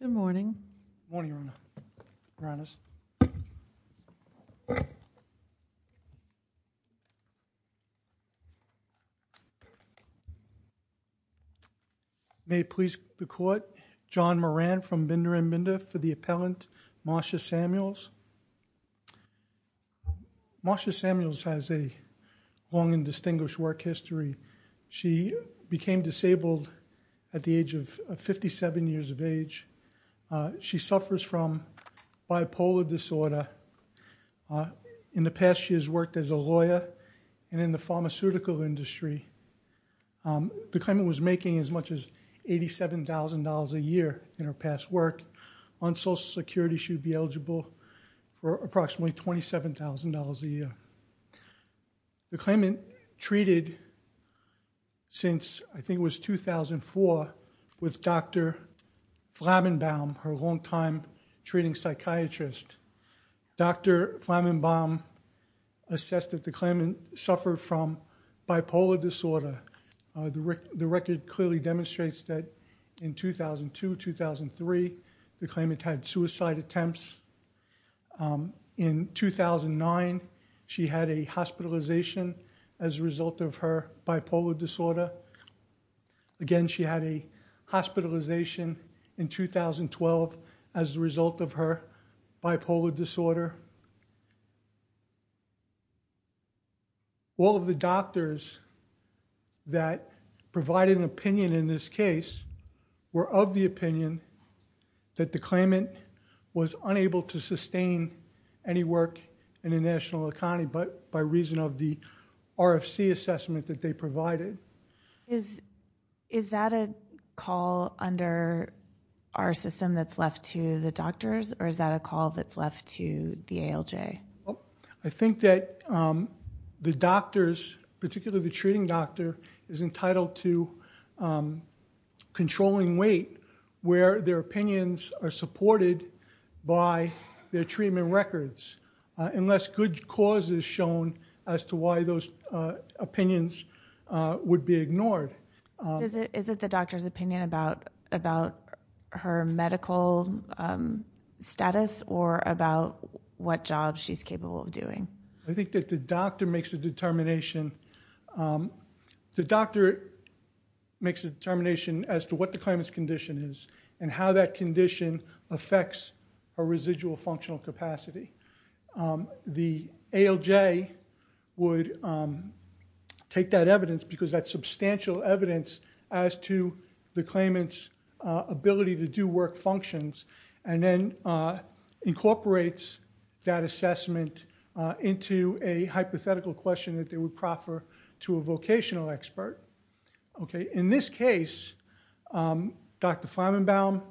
Good morning, good morning Your Honor, Your Honors. May it please the Court, John Moran from Binder and Binder for the appellant Marcia Samuels. Marcia Samuels has a long and distinguished work history. She became disabled at the age of 57 years of age. She suffers from bipolar disorder. In the past she has worked as a lawyer and in the pharmaceutical industry. The claimant was making as much as $87,000 a year in her past work. On Social Security she would be eligible for approximately $27,000 a year. The claimant treated since, I think it was 2004, with Dr. Flammenbaum, her long time treating psychiatrist. Dr. Flammenbaum assessed that the claimant suffered from bipolar disorder. The record clearly demonstrates that in 2002, 2003 the claimant had suicide attempts. In 2009 she had a hospitalization as a result of her bipolar disorder. Again she had a hospitalization in 2012 as a result of her bipolar disorder. All of the doctors that provided an opinion in this case were of the opinion that the claimant was unable to sustain any work in the national economy by reason of the RFC assessment that they provided. Is that a call under our system that's left to the doctors or is that a call that's left to the ALJ? I think that the doctors, particularly the treating doctor, is entitled to controlling weight where their opinions are supported by their treatment records unless good cause is shown as to why those opinions would be ignored. Is it the doctor's opinion about her medical status or about what job she's capable of doing? I think that the doctor makes a determination. The doctor makes a determination as to what the claimant's condition is and how that condition affects her residual functional capacity. The ALJ would take that evidence because that's substantial evidence as to the claimant's ability to do work functions and then incorporates that assessment into a hypothetical question that they would proffer to a vocational expert. In this case, Dr. Flammenbaum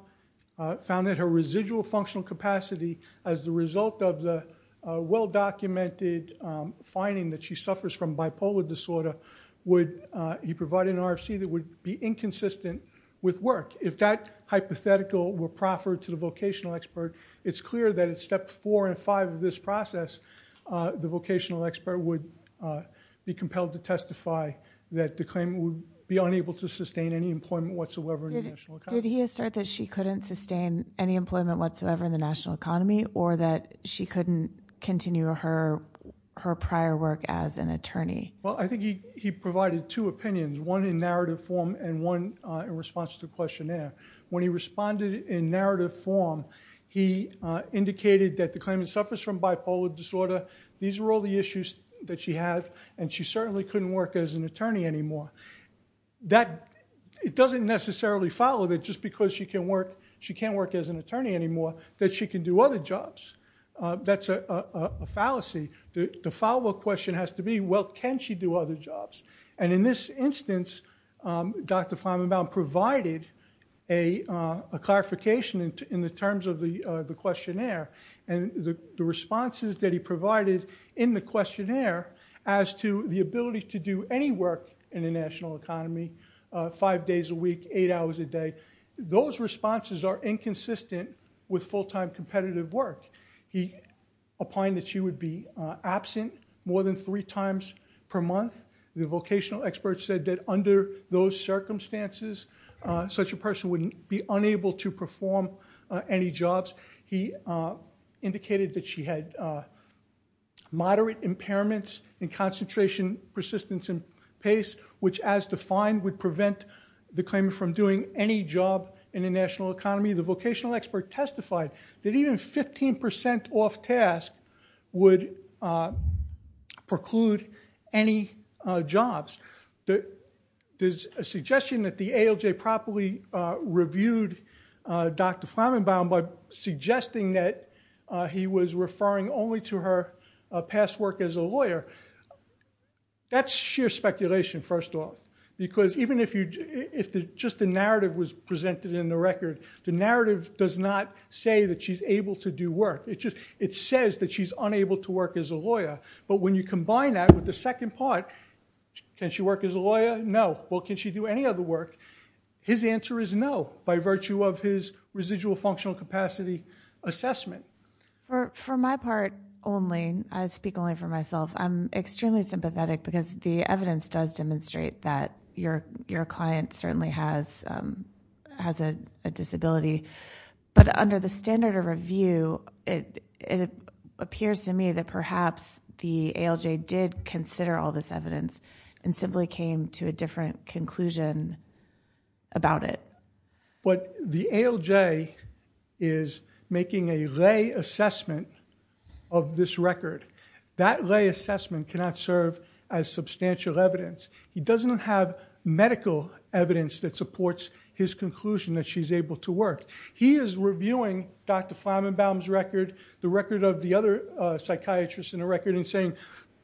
found that her residual functional capacity as the result of the well-documented finding that she suffers from bipolar disorder would be providing an RFC that would be inconsistent with work. If that hypothetical were proffered to the vocational expert, it's clear that at step four and five of this process, the vocational expert would be compelled to testify that the claimant would be unable to sustain any employment whatsoever in the national economy. Did he assert that she couldn't sustain any employment whatsoever in the national economy or that she couldn't continue her prior work as an attorney? I think he provided two opinions, one in narrative form and one in response to the questionnaire. When he responded in narrative form, he indicated that the claimant suffers from bipolar disorder. These were all the issues that she had and she certainly couldn't work as an attorney anymore. It doesn't necessarily follow that just because she can't work as an attorney anymore that she can do other jobs. That's a fallacy. The follow-up question has to be, well, can she do other jobs? In this instance, Dr. Feynman-Bowne provided a clarification in the terms of the questionnaire and the responses that he provided in the questionnaire as to the ability to do any work in the national economy, five days a week, eight hours a day. Those responses are inconsistent with full-time competitive work. He opined that she would be absent more than three times per month. The vocational expert said that under those circumstances, such a person wouldn't be unable to perform any jobs. He indicated that she had moderate impairments in concentration, persistence, and pace, which as defined would prevent the claimant from doing any job in the national economy. The vocational expert testified that even 15% off-task would preclude any jobs. There's a suggestion that the ALJ properly reviewed Dr. Feynman-Bowne by suggesting that he was referring only to her past work as a lawyer. That's sheer speculation, first off, because even if just the narrative was presented in the record, the narrative does not say that she's able to do work. It says that she's unable to work as a lawyer. But when you combine that with the second part, can she work as a lawyer? No. Well, can she do any other work? His answer is no by virtue of his residual functional capacity assessment. For my part only, I speak only for myself, I'm extremely sympathetic because the evidence does demonstrate that your client certainly has a disability. But under the standard of review, it appears to me that perhaps the ALJ did consider all this evidence and simply came to a different conclusion about it. But the ALJ is making a lay assessment of this record. That lay assessment cannot serve as substantial evidence. He doesn't have medical evidence that supports his conclusion that she's able to work. He is reviewing Dr. Feynman-Bowne's record, the record of the other psychiatrists in the record and saying,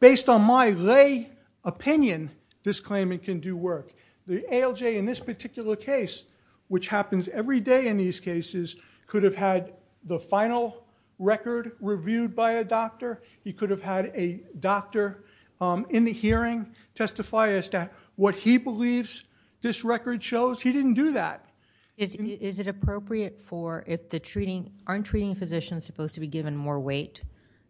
based on my lay opinion, this claimant can do work. The ALJ in this particular case, which happens every day in these cases, could have had the final record reviewed by a doctor. He could have had a doctor in the hearing testify as to what he believes this record shows. He didn't do that. Is it appropriate for, if the treating, aren't treating physicians supposed to be given more weight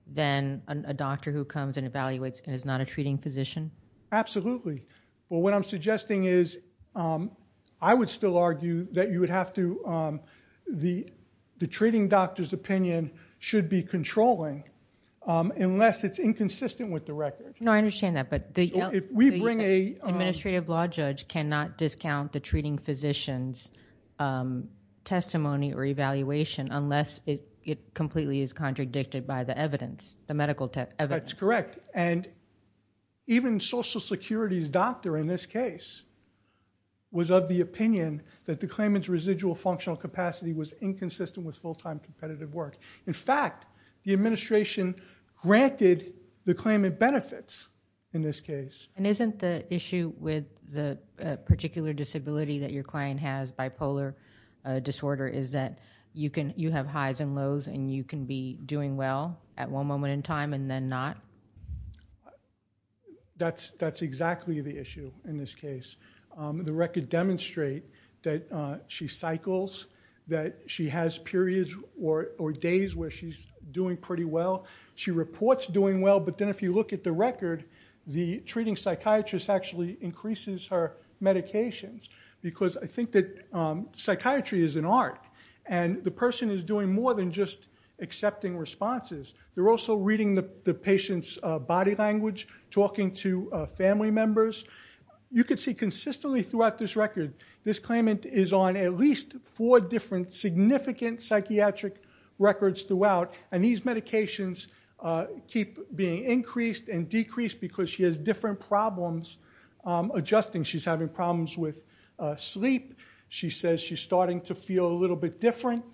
than a doctor who comes and evaluates and is not a treating physician? Absolutely. Well, what I'm suggesting is, I would still argue that you would have to, the treating doctor's opinion should be controlling, unless it's inconsistent with the record. No, I understand that. But the administrative law judge cannot discount the treating physician's testimony or evaluation unless it completely is contradicted by the evidence, the medical evidence. That's correct. And even Social Security's doctor in this case was of the opinion that the claimant's full-time competitive work. In fact, the administration granted the claimant benefits in this case. And isn't the issue with the particular disability that your client has, bipolar disorder, is that you can, you have highs and lows and you can be doing well at one moment in time and then not? That's exactly the issue in this case. The records demonstrate that she cycles, that she has periods or days where she's doing pretty well. She reports doing well, but then if you look at the record, the treating psychiatrist actually increases her medications. Because I think that psychiatry is an art. And the person is doing more than just accepting responses. They're also reading the patient's body language, talking to family members. You can see consistently throughout this record, this claimant is on at least four different significant psychiatric records throughout. And these medications keep being increased and decreased because she has different problems adjusting. She's having problems with sleep. She says she's starting to feel a little bit different.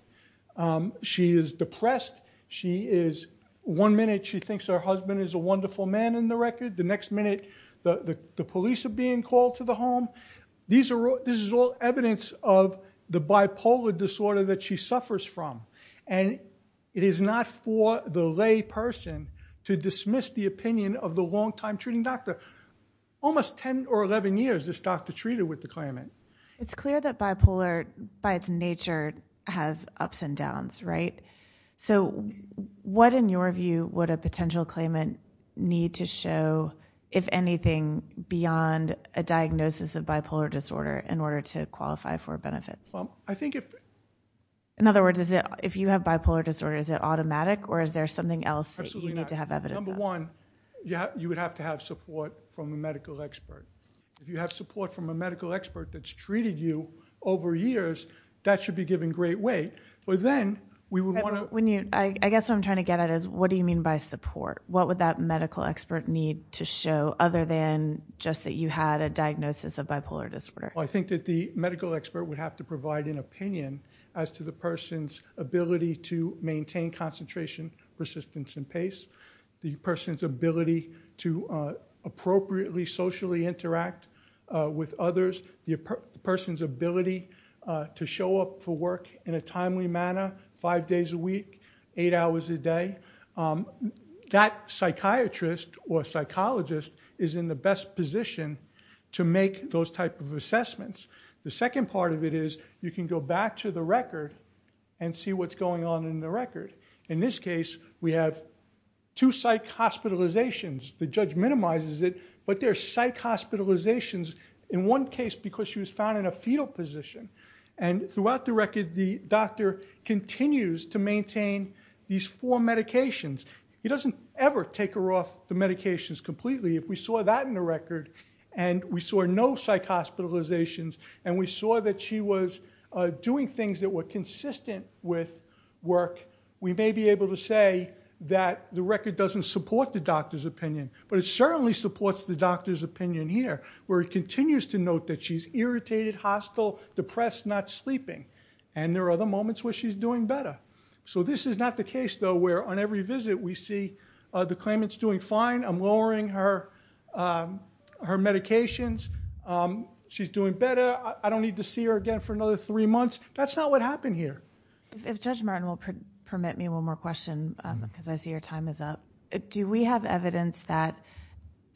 She is depressed. She is, one minute she thinks her husband is a wonderful man in the record. The next minute the police are being called to the home. These are all evidence of the bipolar disorder that she suffers from. And it is not for the lay person to dismiss the opinion of the long time treating doctor. Almost 10 or 11 years this doctor treated with the claimant. It's clear that bipolar by its nature has ups and downs, right? So what in your view would a potential claimant need to show, if anything, beyond a diagnosis of bipolar disorder in order to qualify for benefits? In other words, if you have bipolar disorder, is it automatic or is there something else that you need to have evidence of? Absolutely not. Number one, you would have to have support from a medical expert. If you have support from a medical expert that's treated you over years, that should be given great weight. But then we would want to- I guess what I'm trying to get at is what do you mean by support? What would that medical expert need to show other than just that you had a diagnosis of bipolar disorder? I think that the medical expert would have to provide an opinion as to the person's ability to maintain concentration, persistence, and pace. The person's ability to appropriately socially interact with others. The person's ability to show up for work in a timely manner, five days a week, eight hours a day. That psychiatrist or psychologist is in the best position to make those type of assessments. The second part of it is you can go back to the record and see what's going on in the record. In this case, we have two psych hospitalizations. The judge minimizes it. But there's psych hospitalizations in one case because she was found in a fetal position. And throughout the record, the doctor continues to maintain these four medications. He doesn't ever take her off the medications completely. If we saw that in the record, and we saw no psych hospitalizations, and we saw that she was doing things that were consistent with work, we may be able to say that the record doesn't support the doctor's opinion. But it certainly supports the doctor's opinion here, where it continues to note that she's irritated, hostile, depressed, not sleeping. And there are other moments where she's doing better. So this is not the case, though, where on every visit, we see the claimant's doing fine. I'm lowering her medications. She's doing better. I don't need to see her again for another three months. That's not what happened here. If Judge Martin will permit me one more question, because I see your time is up, do we have evidence that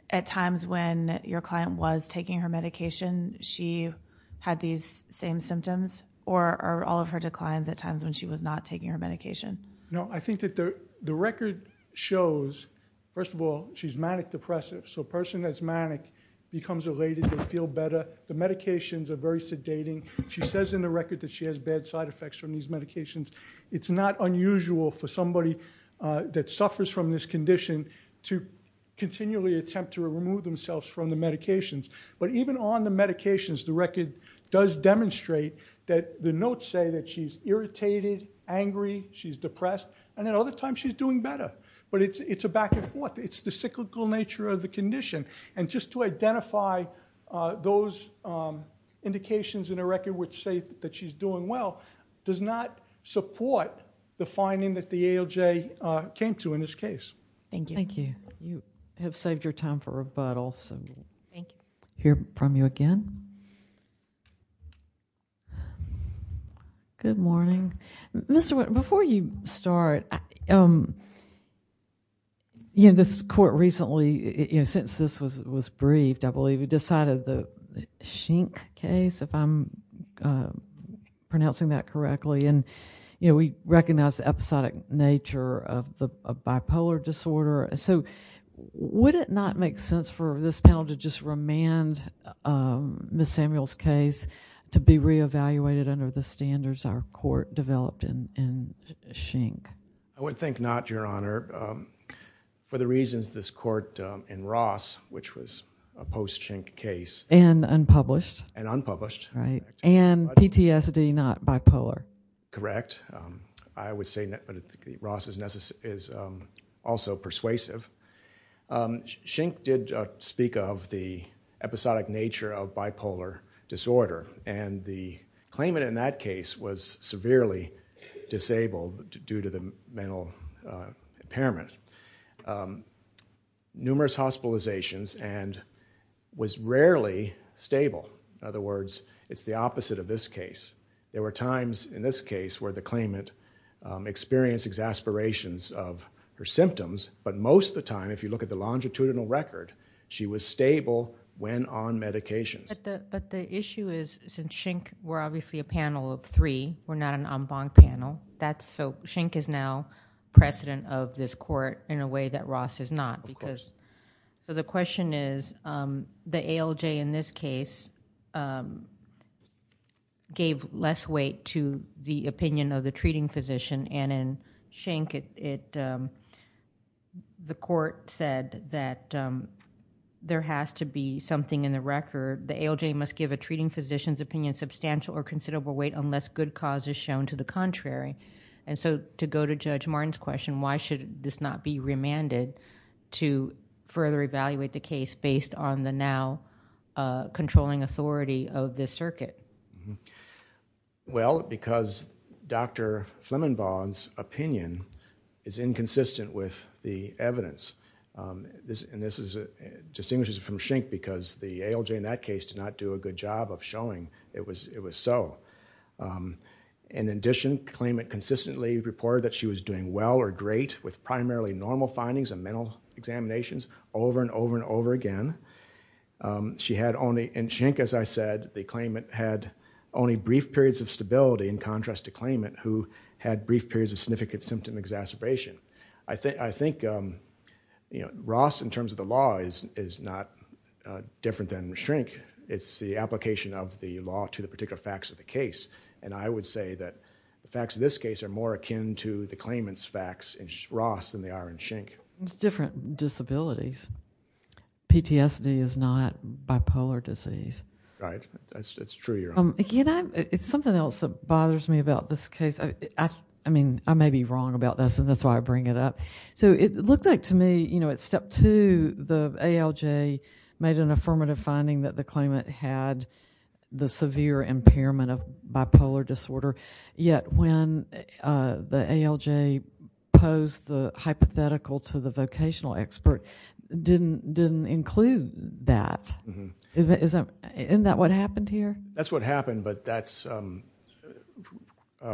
at times when your client was taking her medication, she had these same symptoms, or are all of her declines at times when she was not taking her medication? No, I think that the record shows, first of all, she's manic depressive. So a person that's manic becomes elated, they feel better. The medications are very sedating. She says in the record that she has bad side effects from these medications. It's not unusual for somebody that suffers from this condition to continually attempt to remove themselves from the medications. But even on the medications, the record does demonstrate that the notes say that she's irritated, angry, she's depressed, and then other times she's doing better. But it's a back and forth. It's the cyclical nature of the condition. And just to identify those indications in the record which say that she's doing well does not support the finding that the ALJ came to in this case. Thank you. Thank you. You have saved your time for rebuttal, so we'll hear from you again. Good morning. Mr. Witt, before you start, this court recently, since this was briefed, I believe, we decided the Schenck case, if I'm pronouncing that correctly, and we recognized the episodic nature of bipolar disorder. So would it not make sense for this panel to just remand Ms. Samuel's case to be re-evaluated under the standards our court developed in Schenck? I would think not, Your Honor. For the reasons this court in Ross, which was a post-Schenck case. And unpublished. And unpublished. Right. And PTSD, not bipolar. I would say that Ross is also persuasive. Schenck did speak of the episodic nature of bipolar disorder, and the claimant in that case was severely disabled due to the mental impairment. Numerous hospitalizations, and was rarely stable. In other words, it's the opposite of this case. There were times in this case where the claimant experienced exasperations of her symptoms, but most of the time, if you look at the longitudinal record, she was stable when on medications. But the issue is, since Schenck, we're obviously a panel of three, we're not an en banc panel. Schenck is now president of this court in a way that Ross is not. The question is, the ALJ in this case gave less weight to the opinion of the treating physician, and in Schenck, the court said that there has to be something in the record. The ALJ must give a treating physician's opinion substantial or considerable weight unless good cause is shown to the contrary. And so, to go to Judge Martin's question, why should this not be remanded to further evaluate the case based on the now controlling authority of this circuit? Well, because Dr. Flemmingbaugh's opinion is inconsistent with the evidence. And this distinguishes it from Schenck because the ALJ in that case did not do a good job of showing it was so. In addition, claimant consistently reported that she was doing well or great with primarily normal findings and mental examinations over and over and over again. She had only, in Schenck, as I said, the claimant had only brief periods of stability in contrast to claimant who had brief periods of significant symptom exacerbation. I think Ross, in terms of the law, is not different than Schenck. It's the application of the law to the particular facts of the case. And I would say that the facts of this case are more akin to the claimant's facts in Ross than they are in Schenck. It's different disabilities. PTSD is not bipolar disease. Right. That's true. You're right. It's something else that bothers me about this case. I don't know. I'll bring it up. So it looked like to me, you know, at step two, the ALJ made an affirmative finding that the claimant had the severe impairment of bipolar disorder, yet when the ALJ posed the hypothetical to the vocational expert, didn't include that. Isn't that what happened here? That's what happened. But that's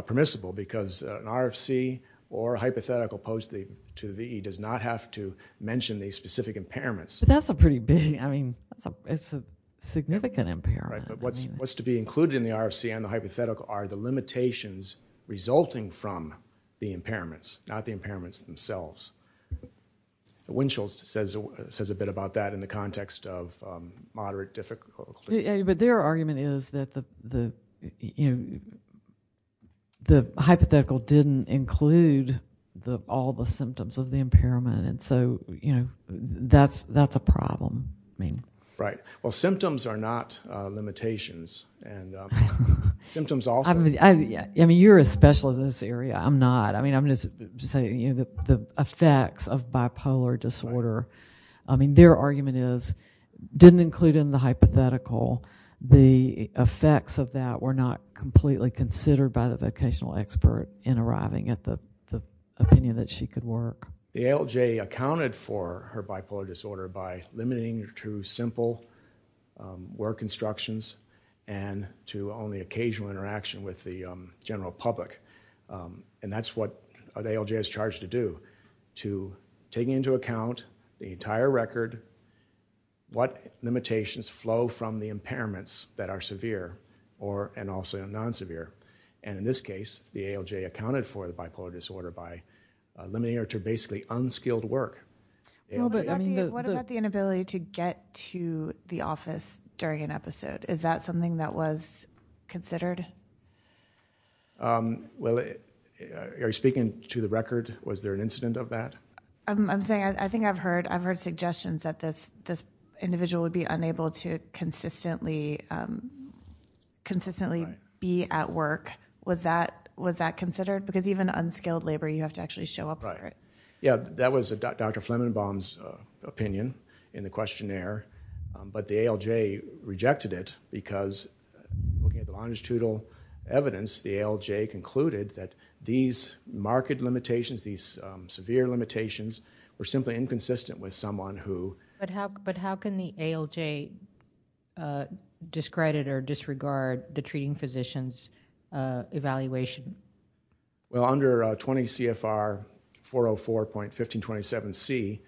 permissible because an RFC or a hypothetical posed to the VE does not have to mention the specific impairments. That's a pretty big, I mean, it's a significant impairment. Right. But what's to be included in the RFC and the hypothetical are the limitations resulting from the impairments, not the impairments themselves. Winchell says a bit about that in the context of moderate difficulty. But their argument is that the hypothetical didn't include all the symptoms of the impairment. And so, you know, that's a problem. Right. Well, symptoms are not limitations. Symptoms also. I mean, you're a specialist in this area. I'm not. I mean, I'm just saying, you know, the effects of bipolar disorder, I mean, their argument is didn't include in the hypothetical the effects of that were not completely considered by the vocational expert in arriving at the opinion that she could work. The ALJ accounted for her bipolar disorder by limiting her to simple work instructions and to only occasional interaction with the general public. And that's what the ALJ is charged to do, to take into account the entire record what limitations flow from the impairments that are severe or and also non-severe. And in this case, the ALJ accounted for the bipolar disorder by limiting her to basically unskilled work. What about the inability to get to the office during an episode? Is that something that was considered? Well, are you speaking to the record? Was there an incident of that? I'm saying, I think I've heard, I've heard suggestions that this individual would be unable to consistently be at work. Was that considered? Because even unskilled labor, you have to actually show up for it. Yeah, that was Dr. Flemingbaum's opinion in the questionnaire. But the ALJ rejected it because, looking at the longitudinal evidence, the ALJ concluded that these marked limitations, these severe limitations, were simply inconsistent with someone who... But how can the ALJ discredit or disregard the treating physician's evaluation? Well, under 20 CFR 404.1527C,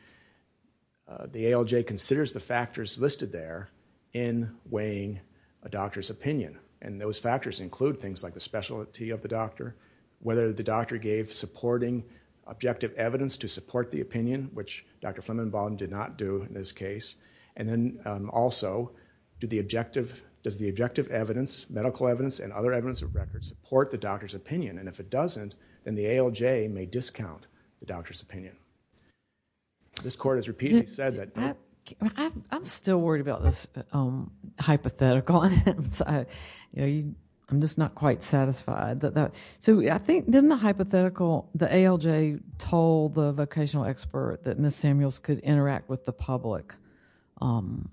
the ALJ considers the factors listed there in weighing a doctor's opinion. And those factors include things like the specialty of the doctor, whether the doctor gave supporting objective evidence to support the opinion, which Dr. Flemingbaum did not do in this case. And then also, does the objective evidence, medical evidence, and other evidence of record support the doctor's opinion? And if it doesn't, then the ALJ may discount the doctor's opinion. This court has repeatedly said that... I'm still worried about this hypothetical. I'm just not quite satisfied. So I think, didn't the hypothetical, the ALJ told the vocational expert that Ms. Samuels could interact with the public on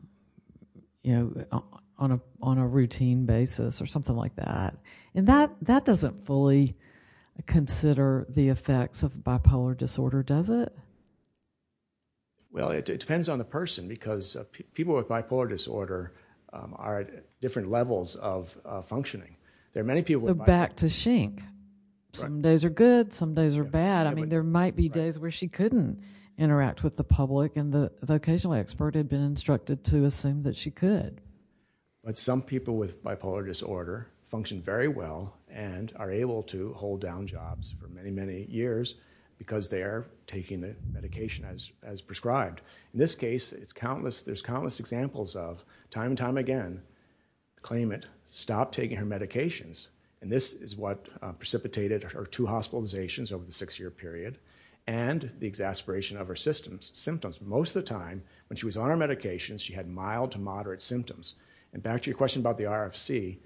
a routine basis or something like that? And that doesn't fully consider the effects of bipolar disorder, does it? Well, it depends on the person because people with bipolar disorder are at different levels of functioning. There are many people... So back to Schenck, some days are good, some days are bad. I mean, there might be days where she couldn't interact with the public and the vocational expert had been instructed to assume that she could. But some people with bipolar disorder function very well and are able to hold down jobs for many, many years because they are taking the medication as prescribed. In this case, there's countless examples of time and time again, claimant stopped taking her medications. And this is what precipitated her two hospitalizations over the six-year period and the exasperation of her symptoms. Most of the time, when she was on her medications, she had mild to moderate symptoms. And back to your question about the RFC,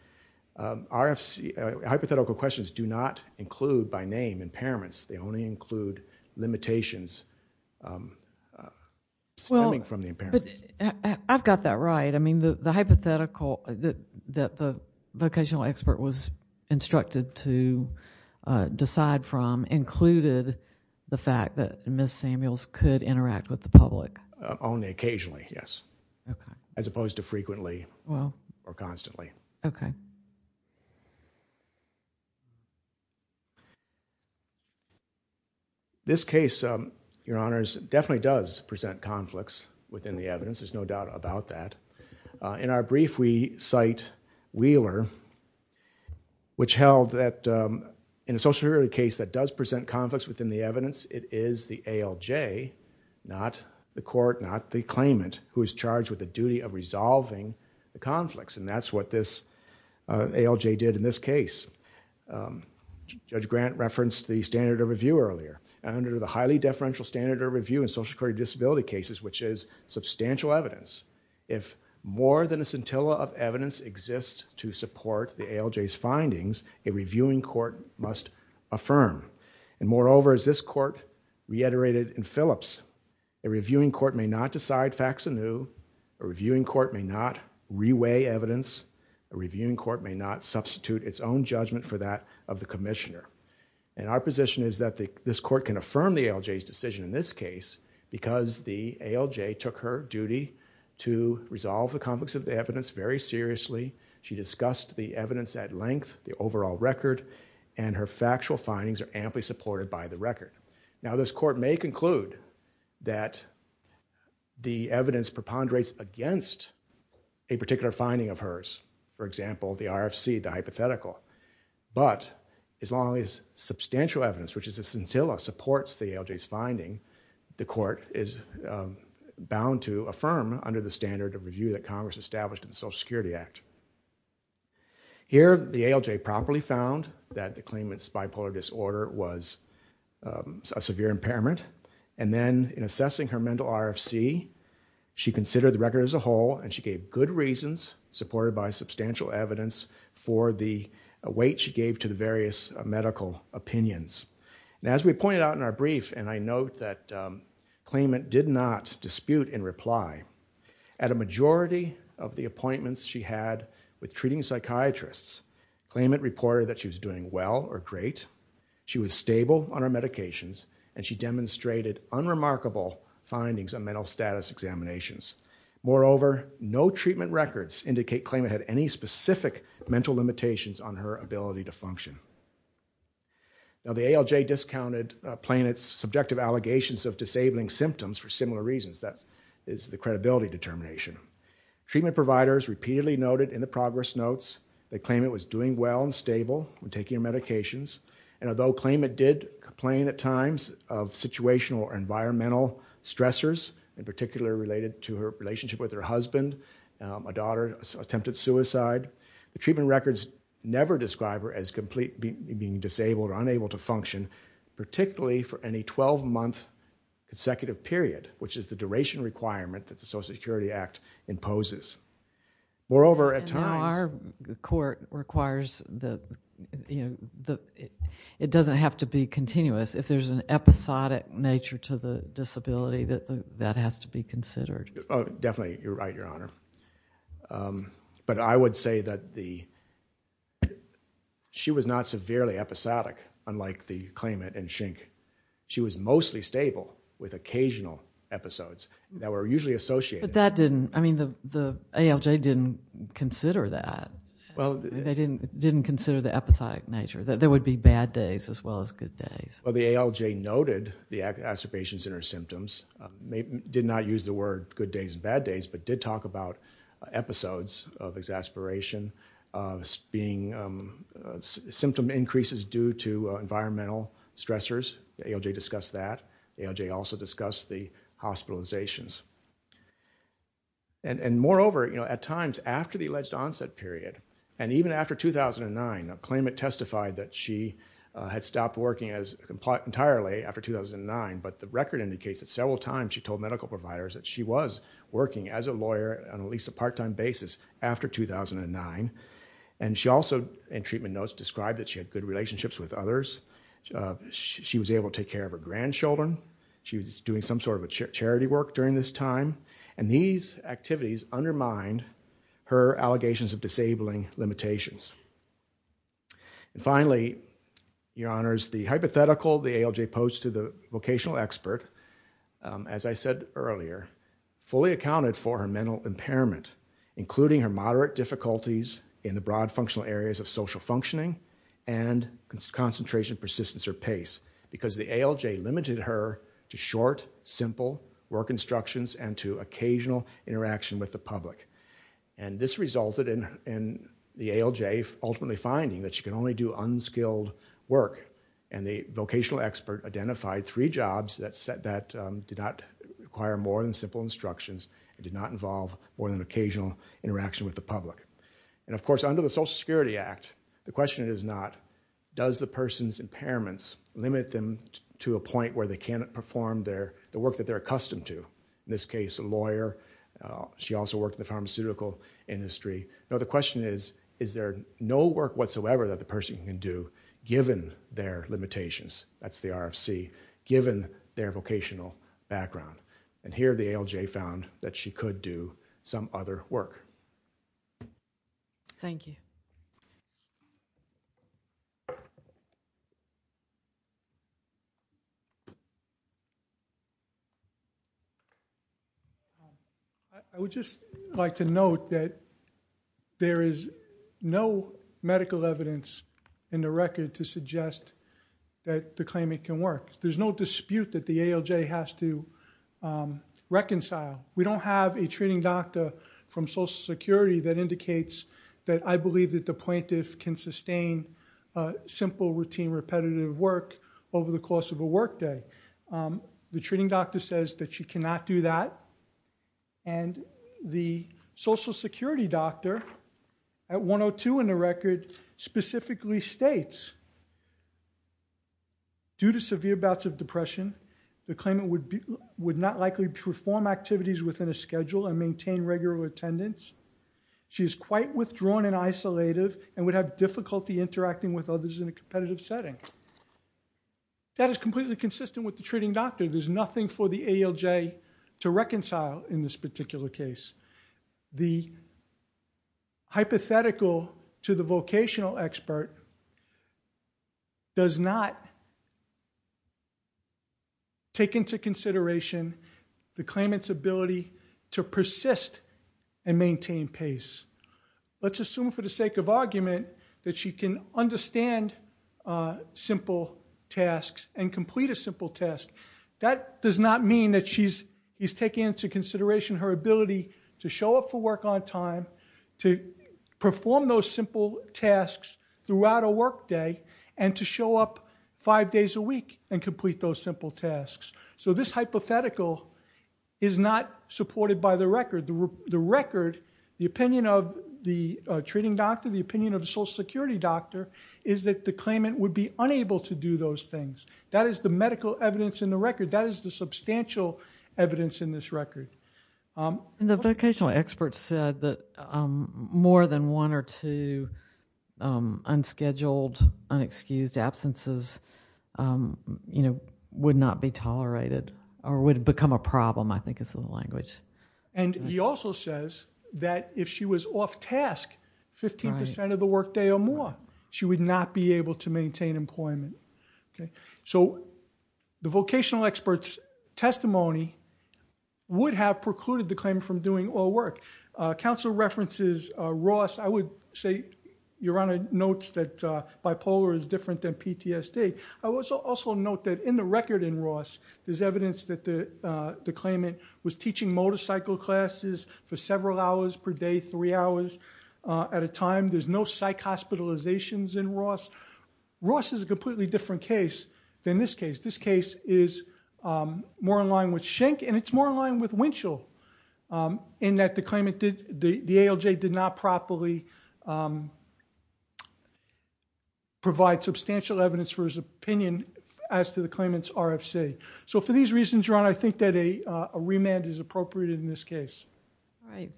hypothetical questions do not include, by name, impairments. They only include limitations stemming from the impairments. I've got that right. I mean, the hypothetical that the vocational expert was instructed to decide from included the fact that Ms. Samuels could interact with the public. Only occasionally, yes. As opposed to frequently or constantly. This case, your honors, definitely does present conflicts within the evidence, there's no doubt about that. In our brief, we cite Wheeler, which held that in a social security case that does present conflicts within the evidence. It is the ALJ, not the court, not the claimant, who is charged with the duty of resolving the conflicts. And that's what this ALJ did in this case. Judge Grant referenced the standard of review earlier. Under the highly deferential standard of review in social security disability cases, which is substantial evidence, if more than a scintilla of evidence exists to support the ALJ's findings, a reviewing court must affirm. And moreover, as this court reiterated in Phillips, a reviewing court may not decide facts anew, a reviewing court may not reweigh evidence, a reviewing court may not substitute its own judgment for that of the commissioner. And our position is that this court can affirm the ALJ's decision in this case because the ALJ took her duty to resolve the conflicts of the evidence very seriously. She discussed the evidence at length, the overall record, and her factual findings are amply supported by the record. Now this court may conclude that the evidence preponderates against a particular finding of hers. For example, the RFC, the hypothetical. But as long as substantial evidence, which is a scintilla, supports the ALJ's finding, the court is bound to affirm under the standard of review that Congress established in the Here, the ALJ properly found that the claimant's bipolar disorder was a severe impairment. And then in assessing her mental RFC, she considered the record as a whole and she gave good reasons, supported by substantial evidence, for the weight she gave to the various medical opinions. And as we pointed out in our brief, and I note that claimant did not dispute in reply, at a majority of the appointments she had with treating psychiatrists, claimant reported that she was doing well or great, she was stable on her medications, and she demonstrated unremarkable findings on mental status examinations. Moreover, no treatment records indicate claimant had any specific mental limitations on her ability to function. Now the ALJ discounted plaintiff's subjective allegations of disabling symptoms for similar credibility determination. Treatment providers repeatedly noted in the progress notes that claimant was doing well and stable when taking her medications, and although claimant did complain at times of situational or environmental stressors, in particular related to her relationship with her husband, a daughter attempted suicide, the treatment records never describe her as completely being disabled or unable to function, particularly for any 12-month consecutive period, which is the duration requirement that the Social Security Act imposes. Moreover, at times... And now our court requires that, you know, it doesn't have to be continuous. If there's an episodic nature to the disability, that has to be considered. Oh, definitely, you're right, Your Honor. But I would say that she was not severely episodic, unlike the claimant and Schenck. She was mostly stable with occasional episodes that were usually associated. But that didn't... I mean, the ALJ didn't consider that. Well... They didn't consider the episodic nature, that there would be bad days as well as good days. Well, the ALJ noted the accident patients and their symptoms, did not use the word good days and bad days, but did talk about episodes of exasperation, being symptom increases due to environmental stressors. The ALJ discussed that. The ALJ also discussed the hospitalizations. And moreover, you know, at times after the alleged onset period, and even after 2009, a claimant testified that she had stopped working entirely after 2009, but the record indicates that several times she told medical providers that she was working as a lawyer on at least a part-time basis after 2009. And she also, in treatment notes, described that she had good relationships with others. She was able to take care of her grandchildren. She was doing some sort of charity work during this time. And these activities undermined her allegations of disabling limitations. And finally, your honors, the hypothetical, the ALJ posed to the vocational expert, as I said earlier, fully accounted for her mental impairment, including her moderate difficulties in the broad functional areas of social functioning and concentration, persistence, or pace, because the ALJ limited her to short, simple work instructions and to occasional interaction with the public. And this resulted in the ALJ ultimately finding that she can only do unskilled work. And the vocational expert identified three jobs that did not require more than simple instructions and did not involve more than occasional interaction with the public. And of course, under the Social Security Act, the question is not, does the person's impairments limit them to a point where they cannot perform the work that they're accustomed to? In this case, a lawyer. She also worked in the pharmaceutical industry. The question is, is there no work whatsoever that the person can do given their limitations? That's the RFC, given their vocational background. And here, the ALJ found that she could do some other work. Thank you. I would just like to note that there is no medical evidence in the record to suggest that the claimant can work. There's no dispute that the ALJ has to reconcile. We don't have a treating doctor from Social Security that indicates that I believe that the plaintiff can sustain simple, routine, repetitive work over the course of a workday. The treating doctor says that she cannot do that. And the Social Security doctor at 102 in the record specifically states, due to severe bouts of depression, the claimant would not likely perform activities within a schedule and maintain regular attendance. She is quite withdrawn and isolative and would have difficulty interacting with others in a competitive setting. That is completely consistent with the treating doctor. There's nothing for the ALJ to reconcile in this particular case. The hypothetical to the vocational expert does not take into consideration the claimant's ability to persist and maintain pace. Let's assume for the sake of argument that she can understand simple tasks and complete a simple task. That does not mean that she's taking into consideration her ability to show up for work on time, to perform those simple tasks throughout a workday, and to show up five days a week and complete those simple tasks. So this hypothetical is not supported by the record. The record, the opinion of the treating doctor, the opinion of the Social Security doctor, is that the claimant would be unable to do those things. That is the medical evidence in the record. That is the substantial evidence in this record. The vocational expert said that more than one or two unscheduled, unexcused absences would not be tolerated or would become a problem, I think is the language. He also says that if she was off task 15% of the workday or more, she would not be able to maintain employment. The vocational expert's testimony would have precluded the claimant from doing all work. Counsel references Ross. I would say Your Honor notes that bipolar is different than PTSD. I will also note that in the record in Ross, there's evidence that the claimant was teaching motorcycle classes for several hours per day, three hours at a time. There's no psych hospitalizations in Ross. Ross is a completely different case than this case. This case is more in line with Schenck and it's more in line with Winchell in that the ALJ did not properly provide substantial evidence for his opinion as to the claimant's RFC. For these reasons, Your Honor, I think that a remand is appropriate in this case.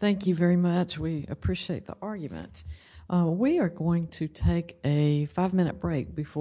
Thank you very much. We appreciate the argument. We are going to take a five-minute break before